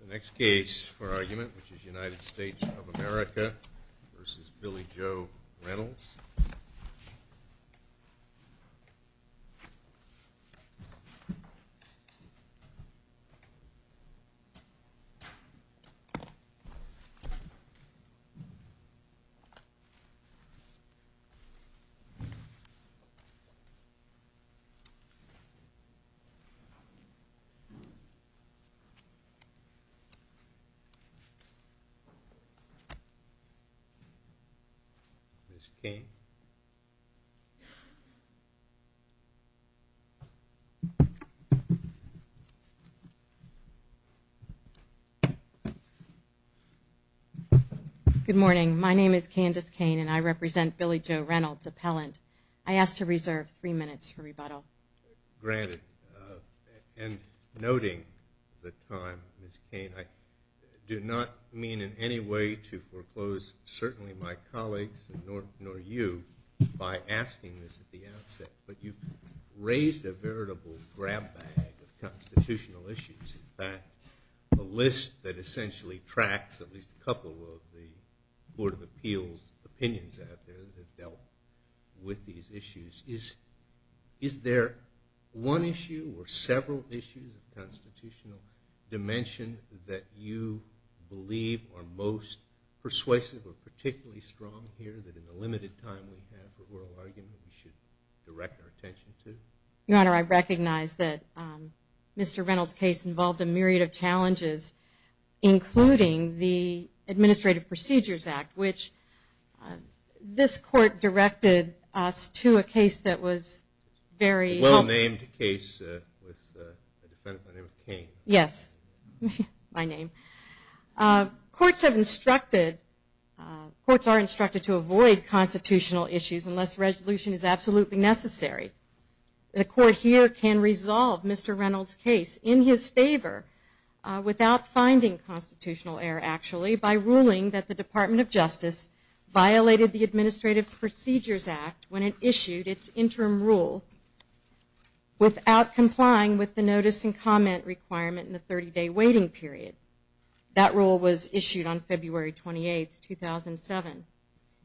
the next case for argument which is united states of america versus billy joe reynolds good morning my name is candace cane and i represent billy joe reynolds appellant i do not mean in any way to foreclose certainly my colleagues nor you by asking this at the outset but you raised a veritable grab bag of constitutional issues in fact a list that essentially tracks at least a couple of the board of appeals opinions out there that dealt with these issues is is there one issue or several issues of constitutional dimension that you believe are most persuasive or particularly strong here that in a limited time we should direct our attention to your honor I recognize that mr. Reynolds case involved a myriad of challenges including the administrative procedures act which this court directed us to a case that was very well named case yes my name courts have instructed courts are instructed to avoid constitutional issues unless resolution is absolutely necessary the court here can resolve mr. Reynolds case in his favor without finding constitutional error actually by ruling that the department of justice violated the administrative procedures act when it issued its interim rule without complying with the notice and comment requirement in the 30-day waiting period that rule was issued on february 28th 2007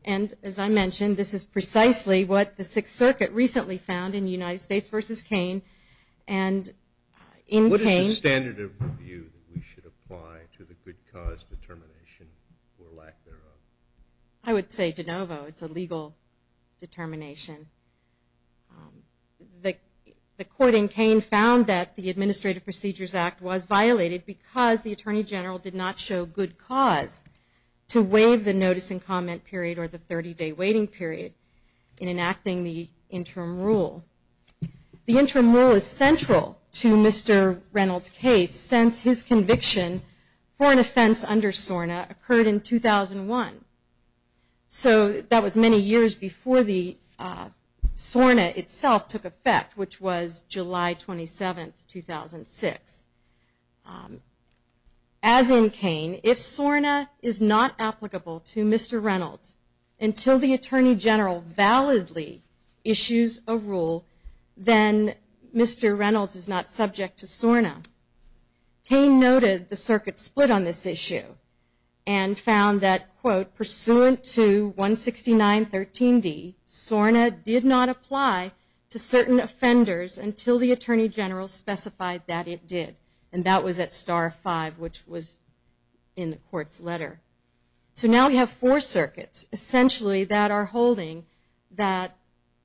and as I mentioned this is precisely what the sixth circuit recently found in united states versus cane and in standard of review we should apply to the good cause determination or lack thereof I would say de novo it's a legal determination the court in cane found that the administrative procedures act was violated because the attorney general did not show good cause to waive the notice and comment period or the 30-day waiting period in enacting the interim rule the interim rule central to mr. Reynolds case since his conviction for an offense under SORNA occurred in 2001 so that was many years before the SORNA itself took effect which was July 27 2006 as in cane if SORNA is not applicable to mr. Reynolds until the attorney general validly issues a rule then mr. Reynolds is not subject to SORNA he noted the circuit split on this issue and found that quote pursuant to 169 13d SORNA did not apply to certain offenders until the attorney general specified that it did and that was at star 5 which was in the court's letter so now we have four circuits essentially that are holding that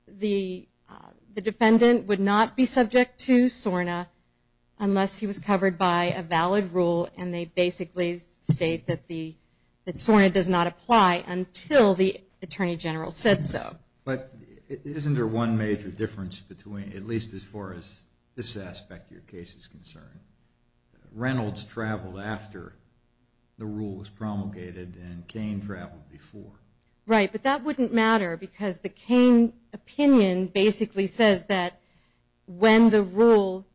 the the defendant would not be subject to SORNA unless he was covered by a valid rule and they basically state that the that SORNA does not apply until the attorney general said so but isn't there one major difference between at least as far as this aspect your case is concerned Reynolds traveled after the rule was promulgated and Cain traveled before right but that wouldn't matter because the Cain opinion basically says that when the rule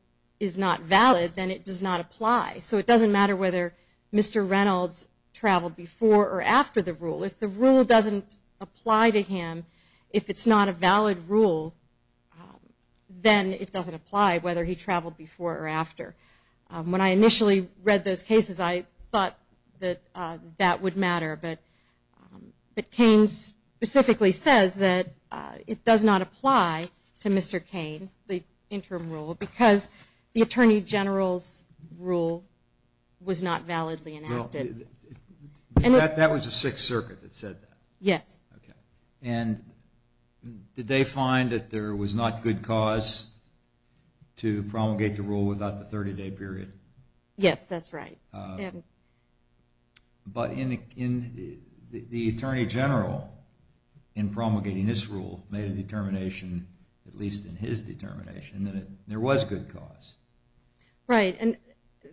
is not valid then it does not apply so it doesn't matter whether mr. Reynolds traveled before or after the rule if the rule doesn't apply to him if it's not a valid rule then it doesn't apply whether he traveled before or after when I initially read those cases I thought that that would matter but but Cain's specifically says that it does not apply to mr. Cain the interim rule because the Attorney General's rule was not validly enacted and that was a Sixth Circuit that said that yes and did they find that there was not good cause to promulgate the rule without the 30-day period yes that's right but in the Attorney General in promulgating this rule made a determination at least in his determination that there was good cause right and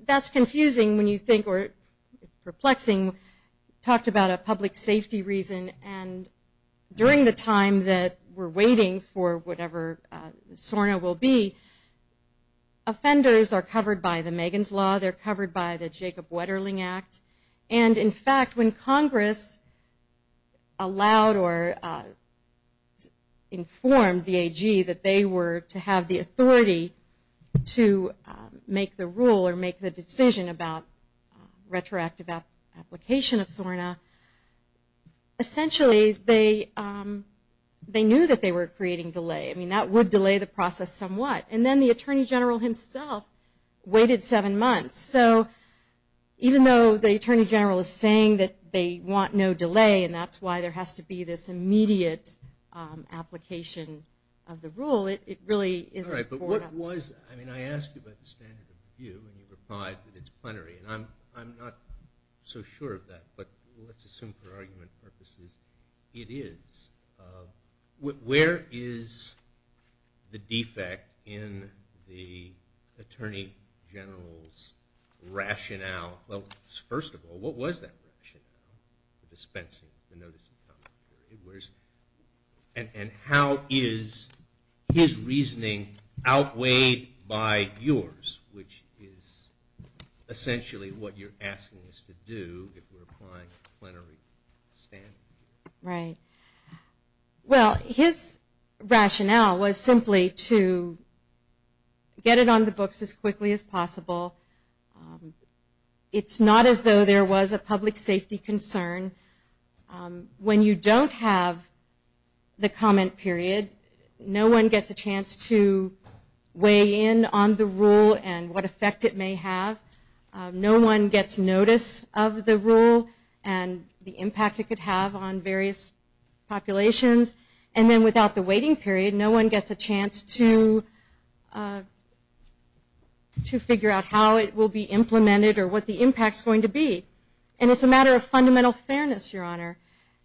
that's confusing when you think perplexing talked about a public safety reason and during the time that we're waiting for whatever SORNA will be offenders are covered by the Megan's law they're covered by the Jacob Wetterling Act and in fact when Congress allowed or informed the AG that they were to have the authority to make the rule or make the decision about retroactive application of SORNA essentially they they knew that they were creating delay I mean that would delay the process somewhat and then the Attorney General himself waited seven months so even though the Attorney General is saying that they want no delay and that's why there has to be this immediate application of the rule it really is right but what was I mean I asked you about the standard of review and you replied that it's plenary and I'm I'm not so sure of that but let's assume for argument purposes it is where is the defect in the Attorney General's rationale well first of all what was that rationale the dispensing the notice and how is his reasoning outweighed by yours which is essentially what you're asking us to do right well his rationale was simply to get it on the books as quickly as possible it's not as though there was a public safety concern when you don't have the comment period no one gets a chance to weigh in on the rule and what effect it may have no one gets notice of the rule and the impact it could have on various populations and then without the waiting period no one gets a chance to to and it's a matter of fundamental fairness your honor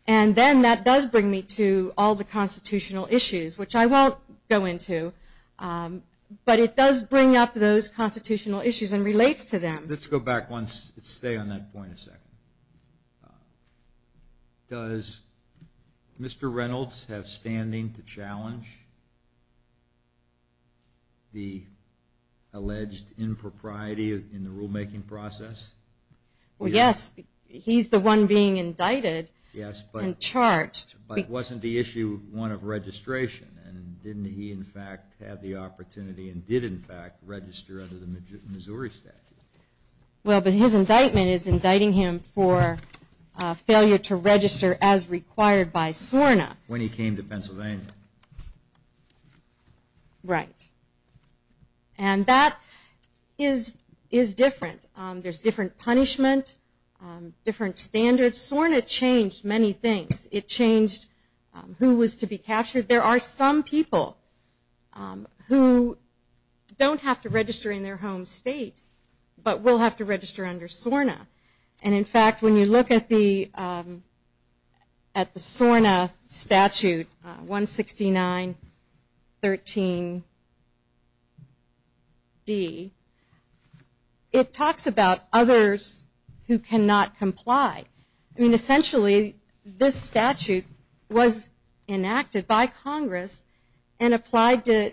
and then that does bring me to all the constitutional issues which I won't go into but it does bring up those constitutional issues and relates to them let's go back once it stay on that point a second does mr. Reynolds have standing to he's the one being indicted yes but in charge wasn't the issue one of registration and didn't he in fact have the opportunity and did in fact register under the Missouri statute well but his indictment is indicting him for failure to register as required by SORNA when he came to different standards SORNA changed many things it changed who was to be captured there are some people who don't have to register in their home state but will have to register under SORNA and in fact when you look at the at the SORNA statute 169 13 D it talks about others who cannot comply I mean essentially this statute was enacted by Congress and applied to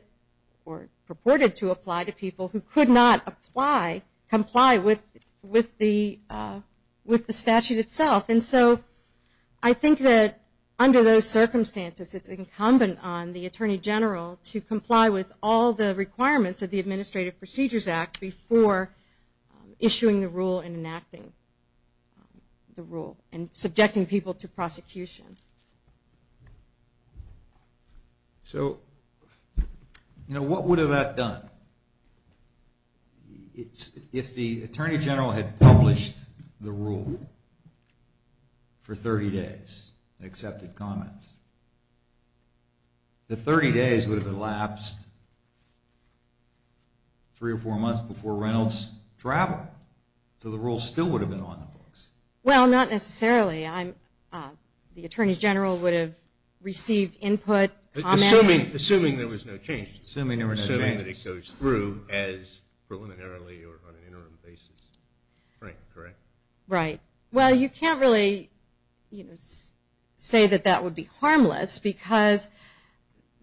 or purported to apply to apply comply with with the with the statute itself and so I think that under those circumstances it's incumbent on the Attorney General to comply with all the requirements of the Administrative Procedures Act before issuing the rule and enacting the rule and subjecting people to prosecution so you know what would have that done it's if the Attorney General had published the rule for 30 days accepted comments the 30 days would have elapsed three or four months before Reynolds travel so the rule still would have been on the books well not necessarily I'm the Attorney General would have received input assuming assuming there was no change assuming there were so many that he goes through as preliminary or on an interim basis right right well you can't really you know say that that would be harmless because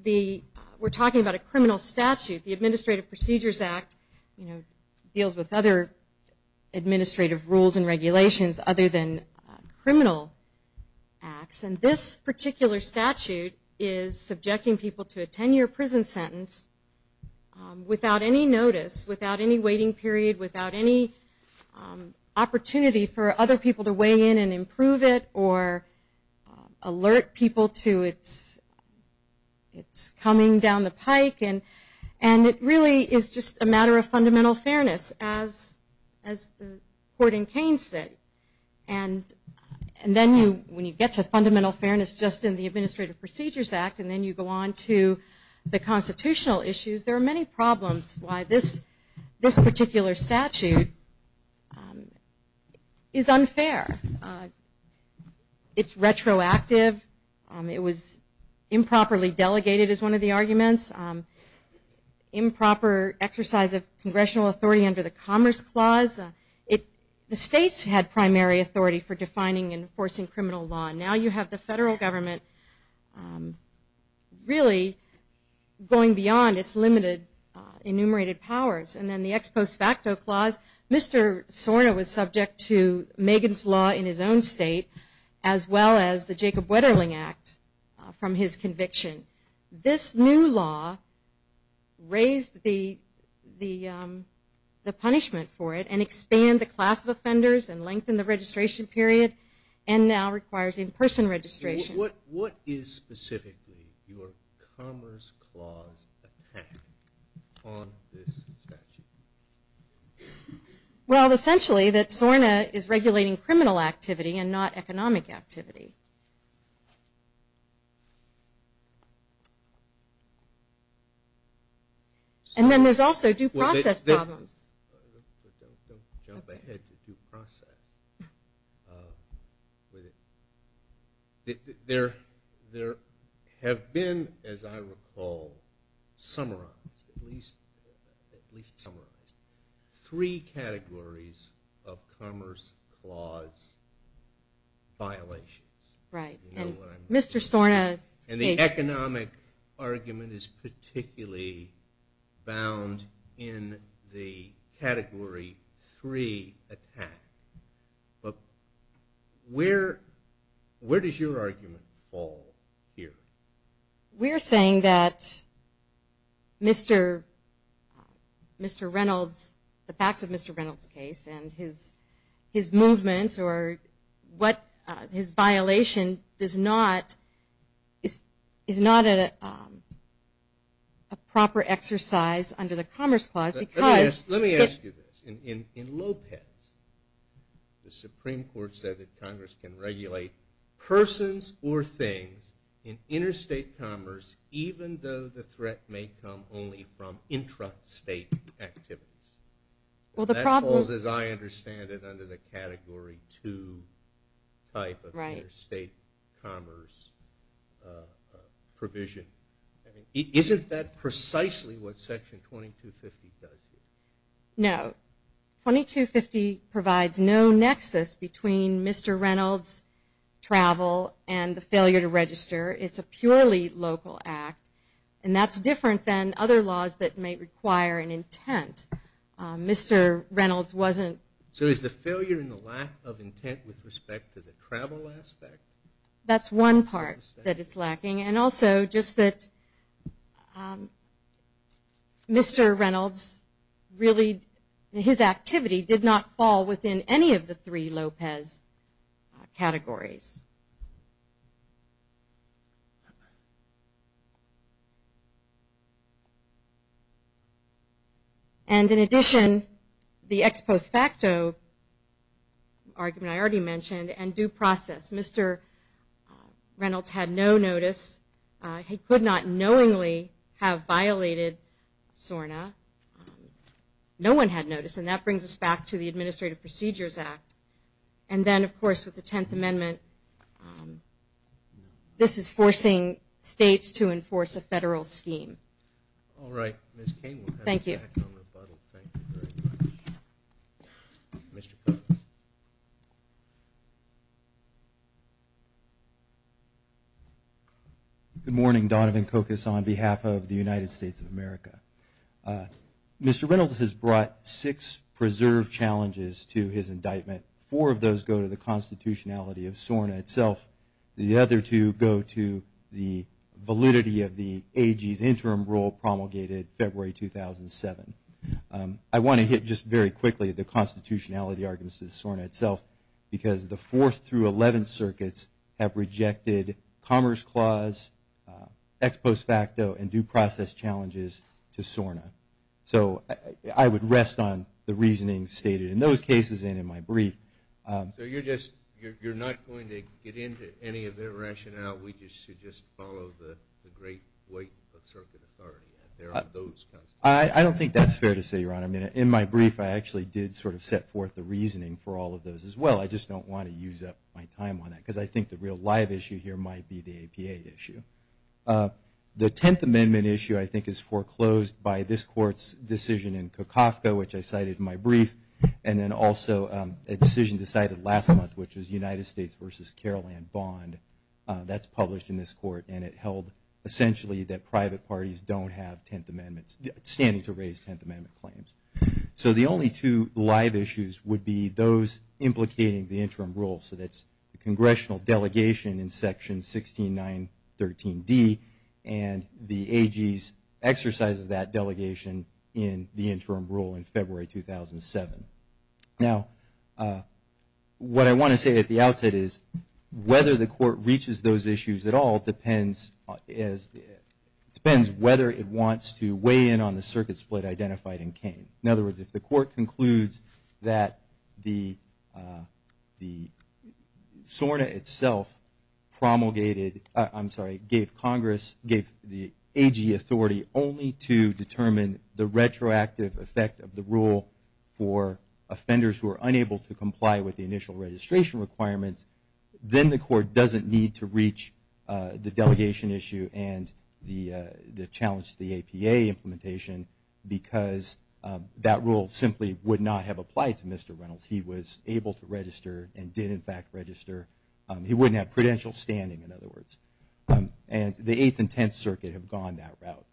the we're talking about a criminal statute the Administrative Procedures Act you know deals with other administrative rules and regulations other than criminal acts and this particular statute is subjecting people to a 10-year prison sentence without any notice without any waiting period without any opportunity for other people to weigh in and improve it or alert people to it's it's coming down the pike and and it really is just a matter of fundamental fairness as as the court in Kane said and and then you when you get to fundamental fairness just in the Administrative Procedures Act and then you go on to the it's retroactive it was improperly delegated as one of the arguments improper exercise of congressional authority under the Commerce Clause it the states had primary authority for defining enforcing criminal law now you have the federal government really going beyond its limited enumerated powers and then the ex post facto clause mr. Sorna was subject to Megan's in his own state as well as the Jacob Wetterling Act from his conviction this new law raised the the the punishment for it and expand the class of offenders and lengthen the registration period and now requires in-person registration what what is specifically your Commerce Clause well essentially that Sorna is regulating criminal activity and not economic activity and then there's also due clause violations right mr. Sorna and the economic argument is particularly bound in the category three attack but where where does your argument fall here we're saying that mr. mr. Reynolds the his movement or what his violation does not is is not a proper exercise under the Commerce Clause because let me ask you this in in in Lopez the Supreme Court said that Congress can regulate persons or things in interstate commerce even though the threat may come only from intra state activities well the problems as I understand it under the category to type of right state commerce provision isn't that precisely what section 2250 does no 2250 provides no nexus between mr. Reynolds travel and the failure to register it's a purely local act and that's than other laws that may require an intent mr. Reynolds wasn't so is the failure in the lack of intent with respect to the travel aspect that's one part that is lacking and also just that mr. Reynolds really his activity did not fall within any of the three Lopez categories and in addition the ex post facto argument I already mentioned and due process mr. Reynolds had no notice he could not knowingly have violated SORNA no one had notice and that brings us back to the Administrative Procedures Act and then of course with the Tenth Amendment this is forcing states to enforce a federal scheme all right thank you good morning Donovan Cocos on behalf of the United States of America mr. Reynolds has brought six preserved challenges to his indictment four of those go to the constitutionality of SORNA itself the other two go to the validity of the AG's interim rule promulgated February 2007 I want to hit just very quickly the constitutionality arguments to the SORNA itself because the fourth through 11 circuits have rejected Commerce Clause ex post facto and due process challenges to SORNA so I would rest on the reasoning stated in those cases and in my brief I don't think that's fair to say your honor minute in my brief I actually did sort of set forth the reasoning for all of those as well I just don't want to use up my time on that because I think the real live issue here might be the APA issue the Tenth Amendment issue I think is foreclosed by this court's decision in Kafka which I cited my brief and then also a decision decided last month which is United States versus Carol and bond that's published in this court and it held essentially that private parties don't have Tenth Amendments standing to raise Tenth Amendment claims so the only two live issues would be those implicating the interim rule so that's the congressional delegation in section 16 913 D and the AG's exercise of that delegation in the interim rule in February 2007 now what I want to say at the outset is whether the court reaches those issues at all depends as it depends whether it wants to weigh in on the circuit split identified in cane in other words if the court concludes that the the SORNA itself promulgated I'm sorry gave Congress gave the AG authority only to determine the retroactive effect of the rule for offenders who are unable to comply with the initial registration requirements then the court doesn't need to reach the delegation issue and the the challenge the APA implementation because that rule simply would not have applied to mr. Reynolds he was able to register and did in fact register he wouldn't have prudential standing in other words and the eighth and tenth circuit have gone that route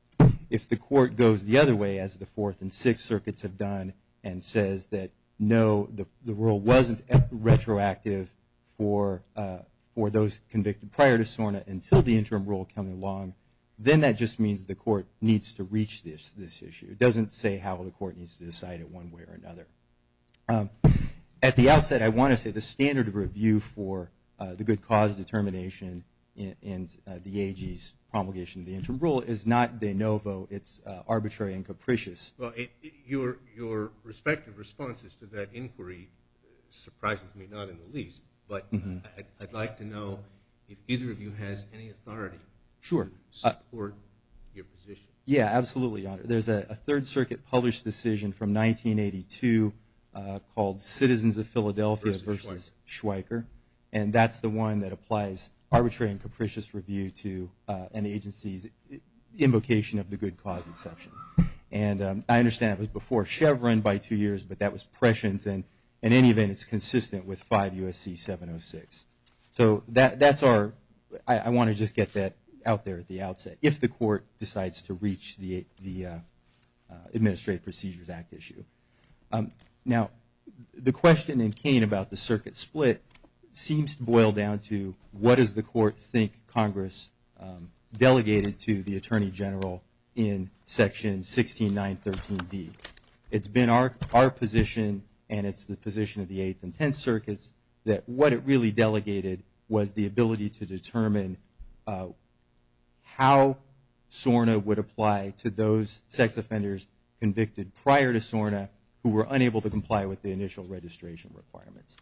if the court goes the other way as the fourth and sixth circuits have done and says that no the rule wasn't retroactive for for those convicted prior to SORNA until the interim rule coming along then that just means the court needs to reach this this issue doesn't say how the court needs to decide it one way or another at the outset I want to say the standard of review for the good cause determination and the AG's promulgation the interim rule is not de novo it's arbitrary and capricious well your your respective responses to that inquiry surprises me not in the least but I'd like to know if either of you has any authority sure or your position yeah absolutely there's a third circuit published decision from 1982 called citizens of Philadelphia versus Schweiker and that's the one that applies arbitrary and capricious review to an agency's invocation of the good cause exception and I understand it was before Chevron by two years but that was prescient and in any event it's consistent with five USC 706 so that that's our I want to just get that out there at the outset if the court decides to reach the the Administrative Procedures Act issue now the question in Kane about the circuit split seems to boil down to what is the court think Congress delegated to the Attorney General in section 16 913 D it's been our our position and it's the position of the eighth and tenth circuits that what it really delegated was the ability to determine how SORNA would apply to those sex offenders convicted prior to SORNA who were unable to comply with the initial registration requirements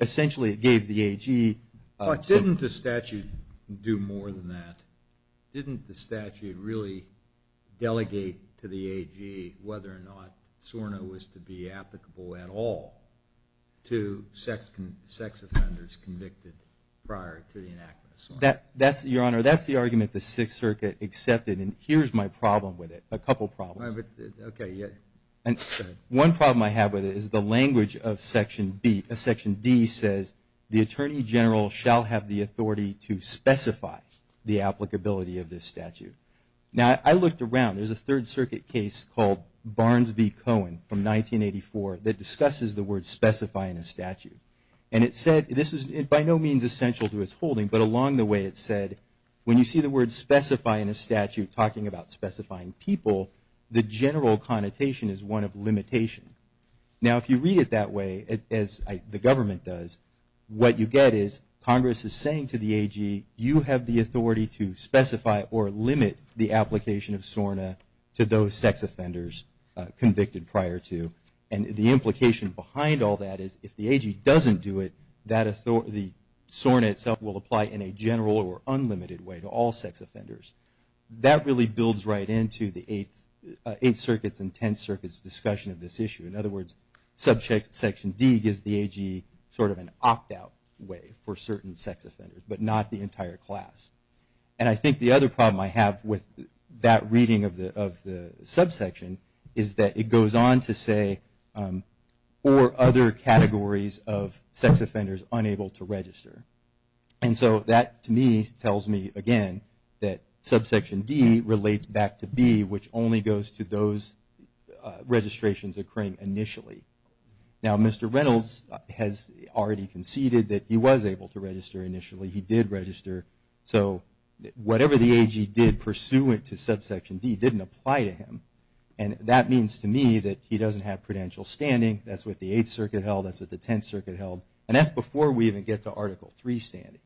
essentially it gave the AG didn't the statute do more than that didn't the statute really delegate to the AG whether or not SORNA was to be applicable at all to sex sex offenders convicted prior to that that's your honor that's the argument the Sixth Circuit accepted and here's my problem with it a couple problems okay yeah and one problem I have with it is the language of section B a section D says the Attorney General shall have the authority to specify the I looked around there's a Third Circuit case called Barnes v. Cohen from 1984 that discusses the word specify in a statute and it said this is by no means essential to its holding but along the way it said when you see the word specify in a statute talking about specifying people the general connotation is one of limitation now if you read it that way as the government does what you get is Congress is saying to the AG you have the authority to specify or limit the application of SORNA to those sex offenders convicted prior to and the implication behind all that is if the AG doesn't do it that authority SORNA itself will apply in a general or unlimited way to all sex offenders that really builds right into the eighth circuits intense circuits discussion of this issue in other words subject section D gives the AG sort of an opt-out way for certain sex offenders but not the entire class and I think the other problem I have with that reading of the of the subsection is that it goes on to say or other categories of sex offenders unable to register and so that to me tells me again that subsection D relates back to B which only goes to those registrations occurring initially now mr. Reynolds has already conceded that he was able to register initially he did register so whatever the AG did pursuant to subsection D didn't apply to him and that means to me that he doesn't have prudential standing that's what the 8th Circuit held us at the 10th Circuit held and that's before we even get to article 3 standing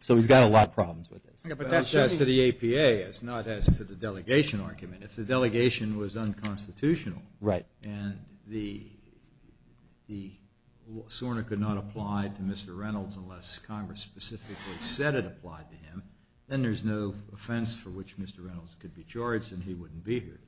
so he's got a lot of problems with it but that's just to the APA it's not as the delegation argument if the delegation was unconstitutional right and the the SORNA could not apply to mr. Reynolds unless Congress specifically said it applied to him then there's no offense for which mr. Reynolds could be charged and he wouldn't be here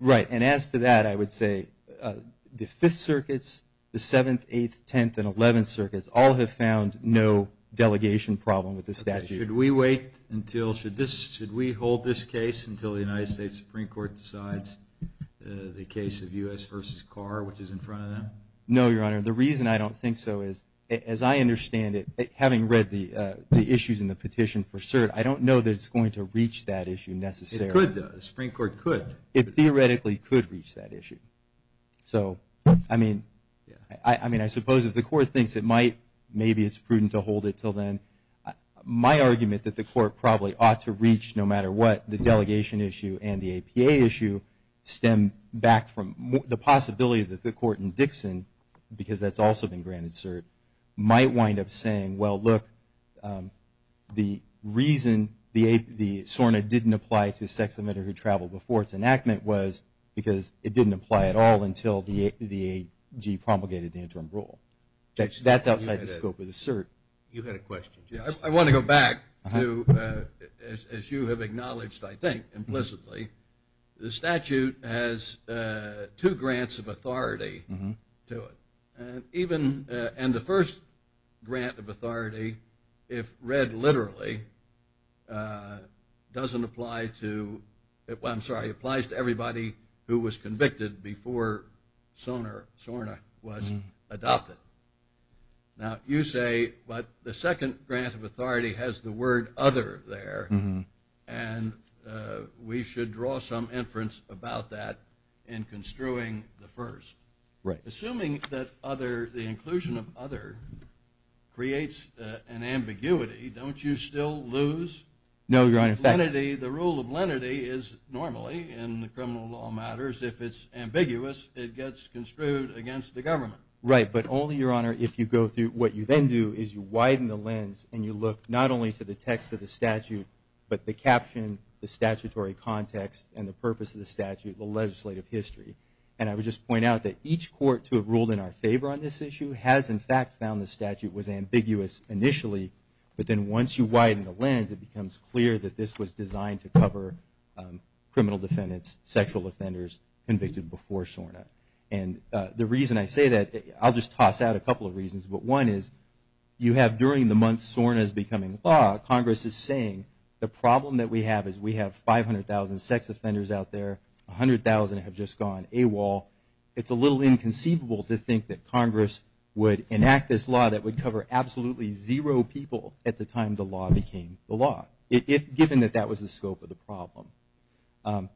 right and as to that I would say the 5th circuits the 7th 8th 10th and 11th circuits all have found no delegation problem with this statute we wait until should this should we hold this case until the United States Supreme Court decides the case of u.s. versus car which is in front of them no your honor the reason I don't think so is as I understand it having read the issues in the petition for cert I don't know that it's going to reach that issue necessary Supreme Court could it theoretically could reach that issue so I mean yeah I mean I suppose if the court thinks it might maybe it's prudent to hold it till then my argument that the court probably ought to reach no matter what the delegation issue and the APA issue stem back from the possibility that the court in Dixon because that's also been granted cert might wind up saying well look the reason the a the SORNA didn't apply to sex emitter who traveled before its enactment was because it didn't apply at all until the the I want to go back to as you have acknowledged I think implicitly the statute has two grants of authority to it and even and the first grant of authority if read literally doesn't apply to it well I'm sorry applies to everybody who was convicted before sonar SORNA was adopted now you say but the second grant of authority has the word other there and we should draw some inference about that in construing the first right assuming that other the inclusion of other creates an ambiguity don't you still lose no your identity the rule of lenity is normally in the criminal law matters if it's ambiguous it gets construed against the government right but only your honor if you go through what you then do is you widen the lens and you look not only to the text of the statute but the caption the statutory context and the purpose of the statute the legislative history and I would just point out that each court to have ruled in our favor on this issue has in fact found the statute was ambiguous initially but then once you widen the lens it becomes clear that this was designed to cover criminal defendants sexual offenders convicted before SORNA and the reason I say that I'll just toss out a couple of reasons but one is you have during the month SORNA is becoming law Congress is saying the problem that we have is we have 500,000 sex offenders out there 100,000 have just gone AWOL it's a little inconceivable to think that Congress would enact this law that would cover absolutely zero people at the time the law became the law if given that that was the scope of the problem and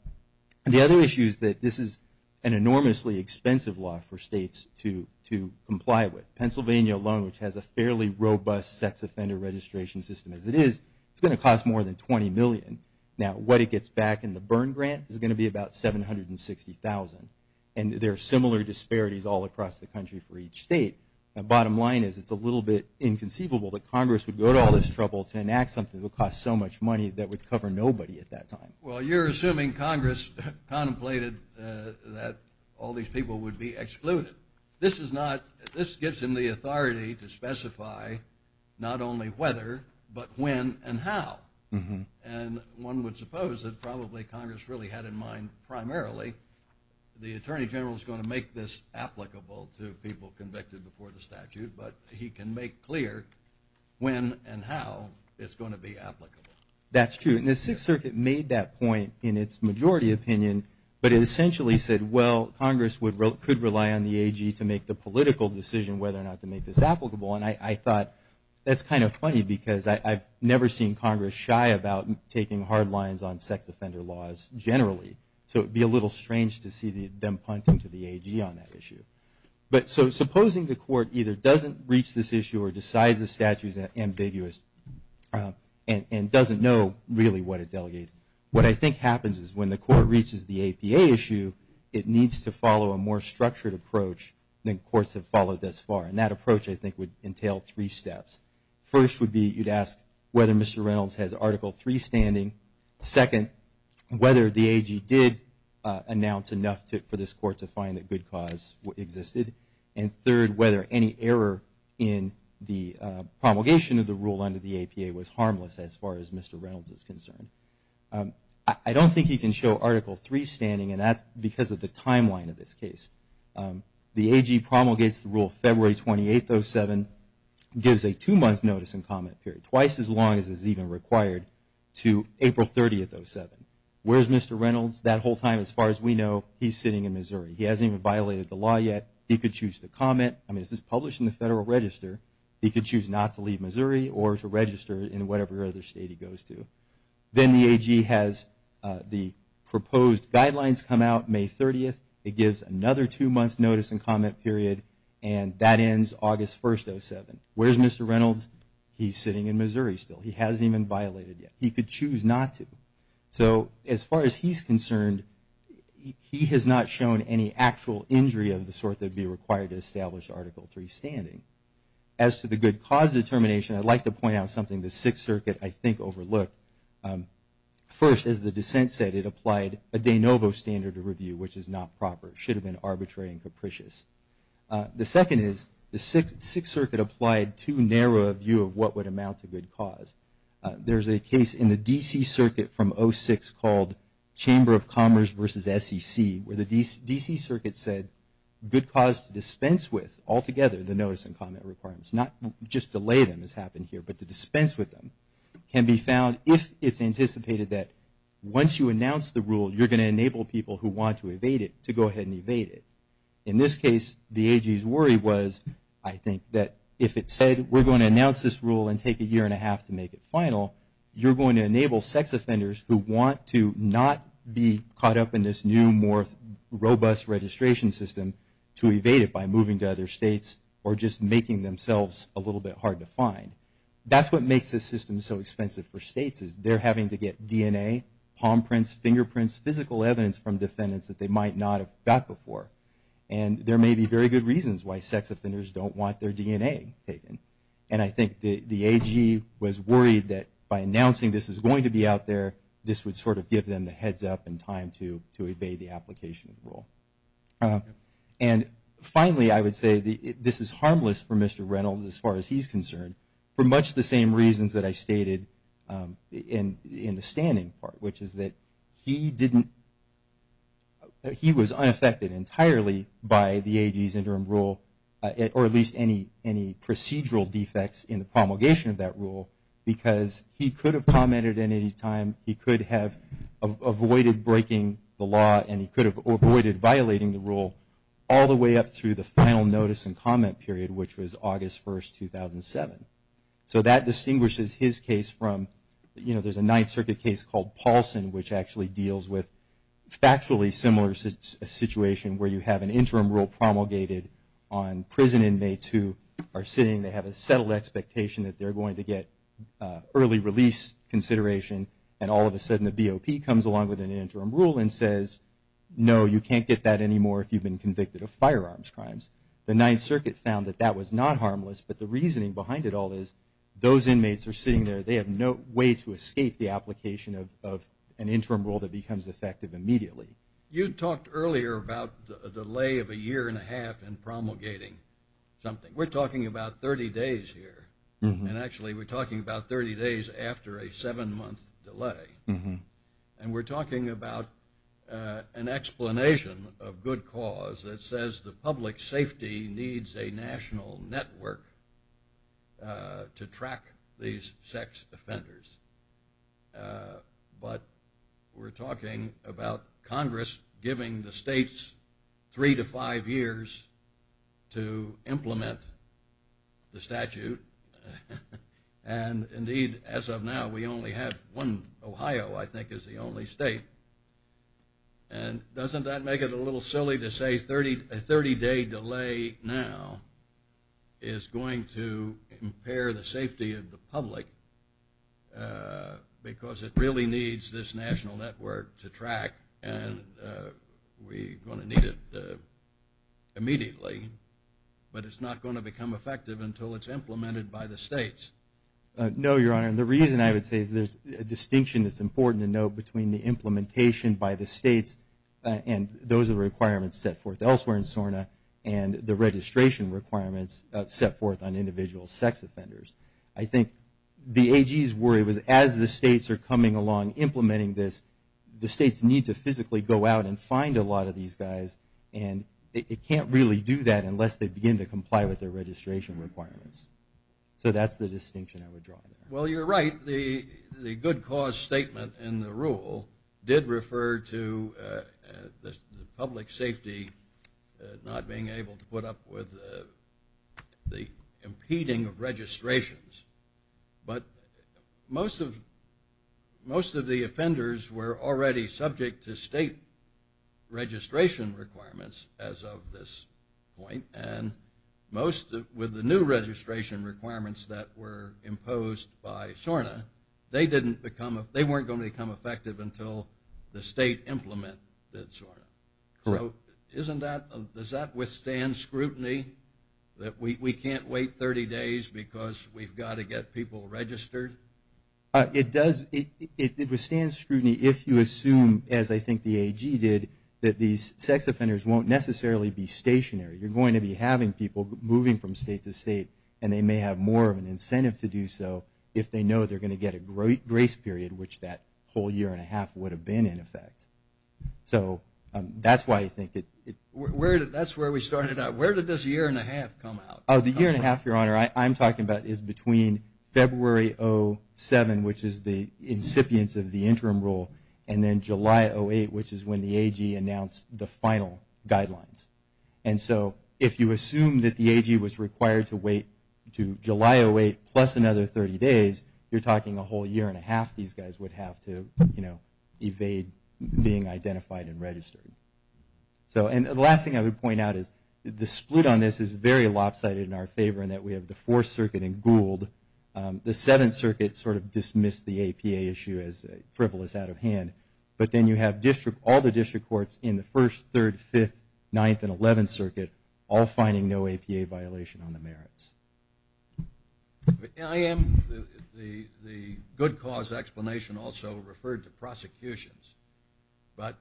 the other issues that this is an enormously expensive law for states to to comply with Pennsylvania alone which has a fairly robust sex offender registration system as it is it's going to cost more than 20 million now what it gets back in the burn grant is going to be about seven hundred and sixty thousand and there are similar disparities all across the country for each state a bottom line is it's a little bit inconceivable that Congress would go to all this trouble to enact something that cost so much money that would cover nobody at that time well you're assuming Congress contemplated that all these people would be excluded this is not this gives him the authority to specify not only whether but when and how and one would suppose that probably Congress really had in mind primarily the Attorney General is going to make this applicable to people convicted before the statute but he can make clear when and how it's going to be applicable that's true in the Sixth Circuit made that point in its majority opinion but it essentially said well Congress would wrote could rely on the AG to make the political decision whether or not to make this applicable and I thought that's kind of funny because I've never seen Congress shy about taking hard lines on sex offender laws generally so it'd be a little strange to see the them punting to the AG on that issue but so supposing the court either doesn't reach this issue or decides the statutes and ambiguous and doesn't know really what it delegates what I think happens is when the court reaches the APA issue it needs to follow a more structured approach then courts have followed thus far and that approach I think would entail three steps first would be you'd ask whether mr. Reynolds has article 3 standing second whether the AG did announce enough to for this court to find that good cause existed and third whether any error in the promulgation of the rule under the APA was harmless as far as mr. Reynolds is concerned I don't think he can show article 3 standing and that's because of the timeline of this case the AG promulgates the rule February 28th 07 gives a two-month notice and comment period twice as long as is even required to April 30th 07 where's mr. Reynolds that whole time as far as we know he's sitting in Missouri he hasn't even violated the law yet he could choose to comment I mean this is published in the Federal Register he could choose not to leave Missouri or to register in whatever other state he goes to then the AG has the proposed guidelines come out May 30th it gives another two months notice and comment period and that ends August 1st 07 where's mr. Reynolds he's sitting in Missouri still he hasn't even violated yet he could choose not to so as far as he's concerned he has not shown any actual injury of the sort that would be required to establish article 3 standing as to the good cause determination I'd like to point out something the Sixth Circuit I think overlooked first as the dissent said it applied a de novo standard of review which is not proper it should have been arbitrary and capricious the second is the Sixth Circuit applied too narrow a view of what would amount to good cause there's a case in the DC Circuit from 06 called Chamber of Commerce versus SEC where the DC Circuit said good cause to dispense with altogether the notice and comment requirements not just delay them has happened here but to dispense with them can be found if it's anticipated that once you announce the rule you're going to enable people who want to evade it to go ahead and evade it in this case the AG's worry was I think that if it said we're going to announce this rule and take a year and a half to make it final you're going to enable sex offenders who want to not be caught up in this new more robust registration system to evade it by moving to other states or just making themselves a little bit hard to find that's what makes this system so expensive for states is they're having to get DNA palm prints fingerprints physical evidence from defendants that they might not have got before and there may be very good reasons why sex offenders don't want their DNA taken and I think the the AG was worried that by announcing this is going to be out there this would sort of give them the heads up and time to to evade the application of the rule and finally I would say the this is harmless for mr. Reynolds as far as he's concerned for much the same reasons that I stated in in the standing part which is that he didn't he was unaffected entirely by the AG's interim rule or at least any any procedural defects in the promulgation of that rule because he could have commented at any time he could have avoided breaking the law and he could have avoided violating the rule all the way up through the final notice and comment period which was August 1st 2007 so that distinguishes his case from you which actually deals with factually similar situation where you have an interim rule promulgated on prison inmates who are sitting they have a settled expectation that they're going to get early release consideration and all of a sudden the BOP comes along with an interim rule and says no you can't get that anymore if you've been convicted of firearms crimes the Ninth Circuit found that that was not harmless but the reasoning behind it all is those inmates are sitting there they have no way to escape the application of an interim rule that becomes effective immediately you talked earlier about a delay of a year and a half and promulgating something we're talking about 30 days here and actually we're talking about 30 days after a seven month delay and we're talking about an explanation of good cause that says the public safety needs a national network to track these sex offenders but we're talking about Congress giving the state's three to five years to implement the statute and indeed as of now we only have one Ohio I think is the only and doesn't that make it a little silly to say 30 30 day delay now is going to impair the safety of the public because it really needs this national network to track and we going to need it immediately but it's not going to become effective until it's implemented by the states no your honor and the reason I would say is there's a distinction that's important to note between the implementation by the states and those are the requirements set forth elsewhere in SORNA and the registration requirements set forth on individual sex offenders I think the AG's worry was as the states are coming along implementing this the states need to physically go out and find a lot of these guys and it can't really do that unless they begin to comply with their registration requirements so that's the distinction I would draw well you're right the good cause statement in the rule did refer to the public safety not being able to put up with the impeding of registrations but most of most of the offenders were already subject to state registration requirements as of this point and most with the new registration requirements that were imposed by SORNA they didn't become they weren't going to become effective until the state implement that SORNA so isn't that does that withstand scrutiny that we can't wait 30 days because we've got to get people registered it does it withstand scrutiny if you assume as I think the AG did that these sex offenders won't necessarily be stationary you're going to be people moving from state to state and they may have more of an incentive to do so if they know they're going to get a great grace period which that whole year and a half would have been in effect so that's why I think it where did that's where we started out where did this year and a half come out of the year and a half your honor I'm talking about is between February 07 which is the incipients of the interim rule and then July 08 which is when the AG announced the final guidelines and so if you assume that the AG was required to wait to July 08 plus another 30 days you're talking a whole year and a half these guys would have to you know evade being identified and registered so and the last thing I would point out is the split on this is very lopsided in our favor and that we have the fourth circuit and Gould the seventh circuit sort of dismissed the APA issue as frivolous out of hand but then you have district all the district courts in the first third fifth ninth and eleventh circuit all finding no APA violation on the merits I am the good cause explanation also referred to prosecutions but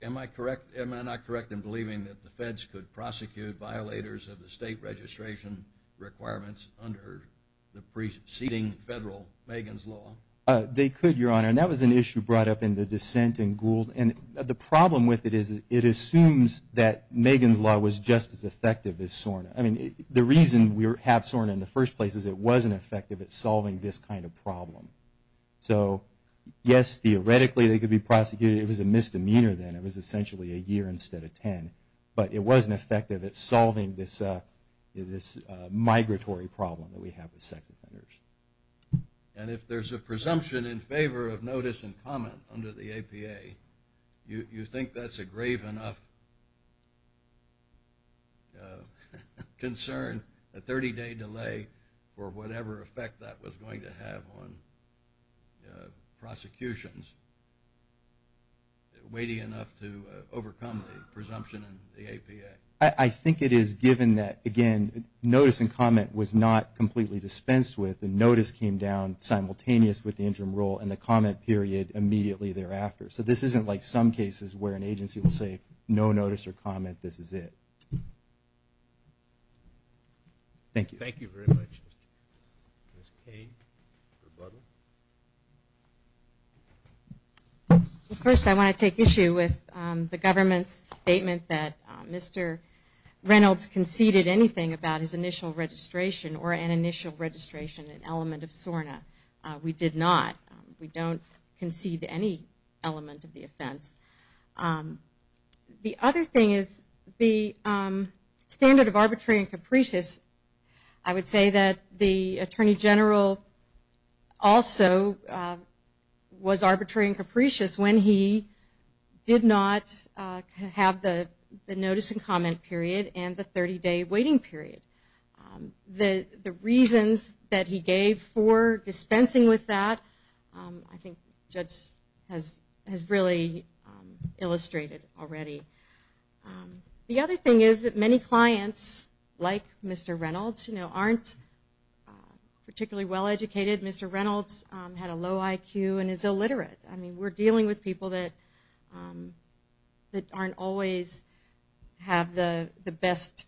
am I correct am I not correct in believing that the feds could prosecute violators of the state registration requirements under the preceding federal Megan's law they could your honor and that was an issue brought up in the dissent and Gould and the problem with it is it assumes that Megan's law was just as effective as SORNA I mean the reason we were have SORNA in the first place is it wasn't effective at solving this kind of problem so yes theoretically they could be prosecuted it was a misdemeanor then it was essentially a year instead of ten but it wasn't effective at solving this this migratory problem that we have with sex offenders and if there's a presumption in favor of notice and comment under the APA you think that's a grave enough concern a 30-day delay or whatever effect that was going to have on prosecutions weighty enough to overcome the presumption in the APA I think it is given that again notice and comment was not completely dispensed with the notice came down simultaneous with the interim rule and the comment period immediately thereafter so this isn't like some cases where an agency will say no notice or comment this is it thank you thank you very much first I want to take issue with the government's statement that mr. Reynolds conceded anything about his initial registration or an initial registration an element of SORNA we did not we don't concede any element of the offense the other thing is the standard of arbitrary and capricious I would say that the Attorney General also was arbitrary and capricious when he did not have the notice and comment period and the 30-day waiting period the the reasons that he gave for dispensing with that I think judge has has really illustrated already the other thing is that many clients like mr. Reynolds you know aren't particularly well-educated mr. Reynolds had a low IQ and is illiterate I mean we're dealing with people that that aren't always have the the best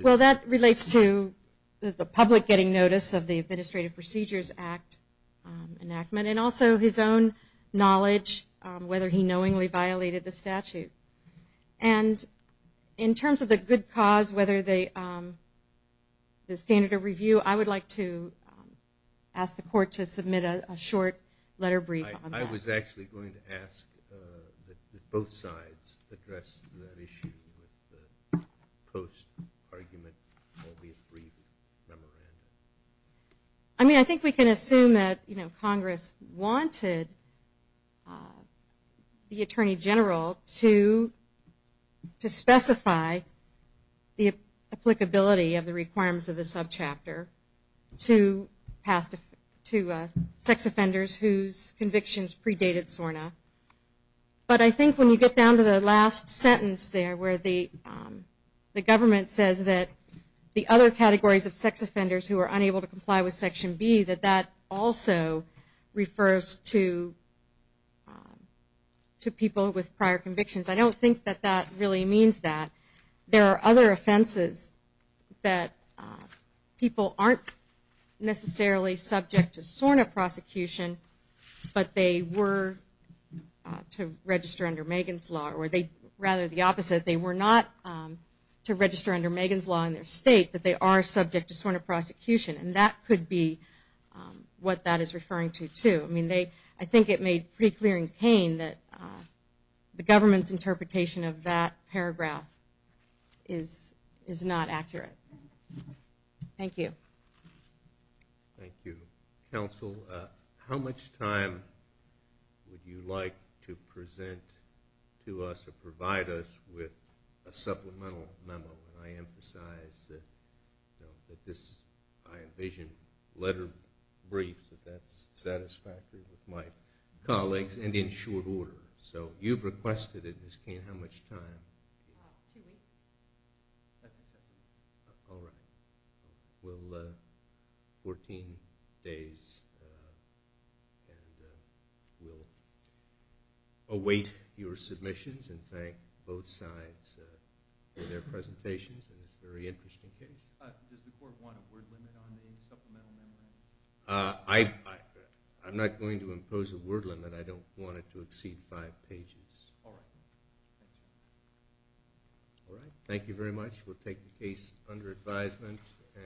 well that relates to the public getting notice of the Administrative Procedures Act enactment and also his own knowledge whether he knowingly violated the statute and in terms of the good cause whether they the standard of review I would like to ask the court to submit a short letter brief I was actually going to ask both sides I mean I think we can assume that you know Congress wanted the Attorney General to to specify the applicability of the requirements of the subchapter to pass to sex offenders whose convictions predated SORNA but I think when you get down to the last sentence there where the the government says that the other categories of sex offenders who are unable to comply with section B that that also refers to to people with prior convictions I don't think that that really means that there are other offenses that people aren't necessarily subject to SORNA prosecution but they were to register under Megan's law or they rather the opposite they were not to register under Megan's law in their state but they are subject to SORNA prosecution and that could be what that is referring to to I mean they I think it made pretty clearing pain that the government's interpretation of that paragraph is is not accurate thank you thank you counsel how much time would you like to present to us to provide us with a supplemental memo I emphasize that this I envision letter briefs that that's satisfactory with my colleagues and in short order so you've requested it this can't how all right well 14 days we'll await your submissions and thank both sides for their presentations and it's very interesting I I'm not going to impose a word limit I don't want it to all right thank you very much we'll take the case under advisement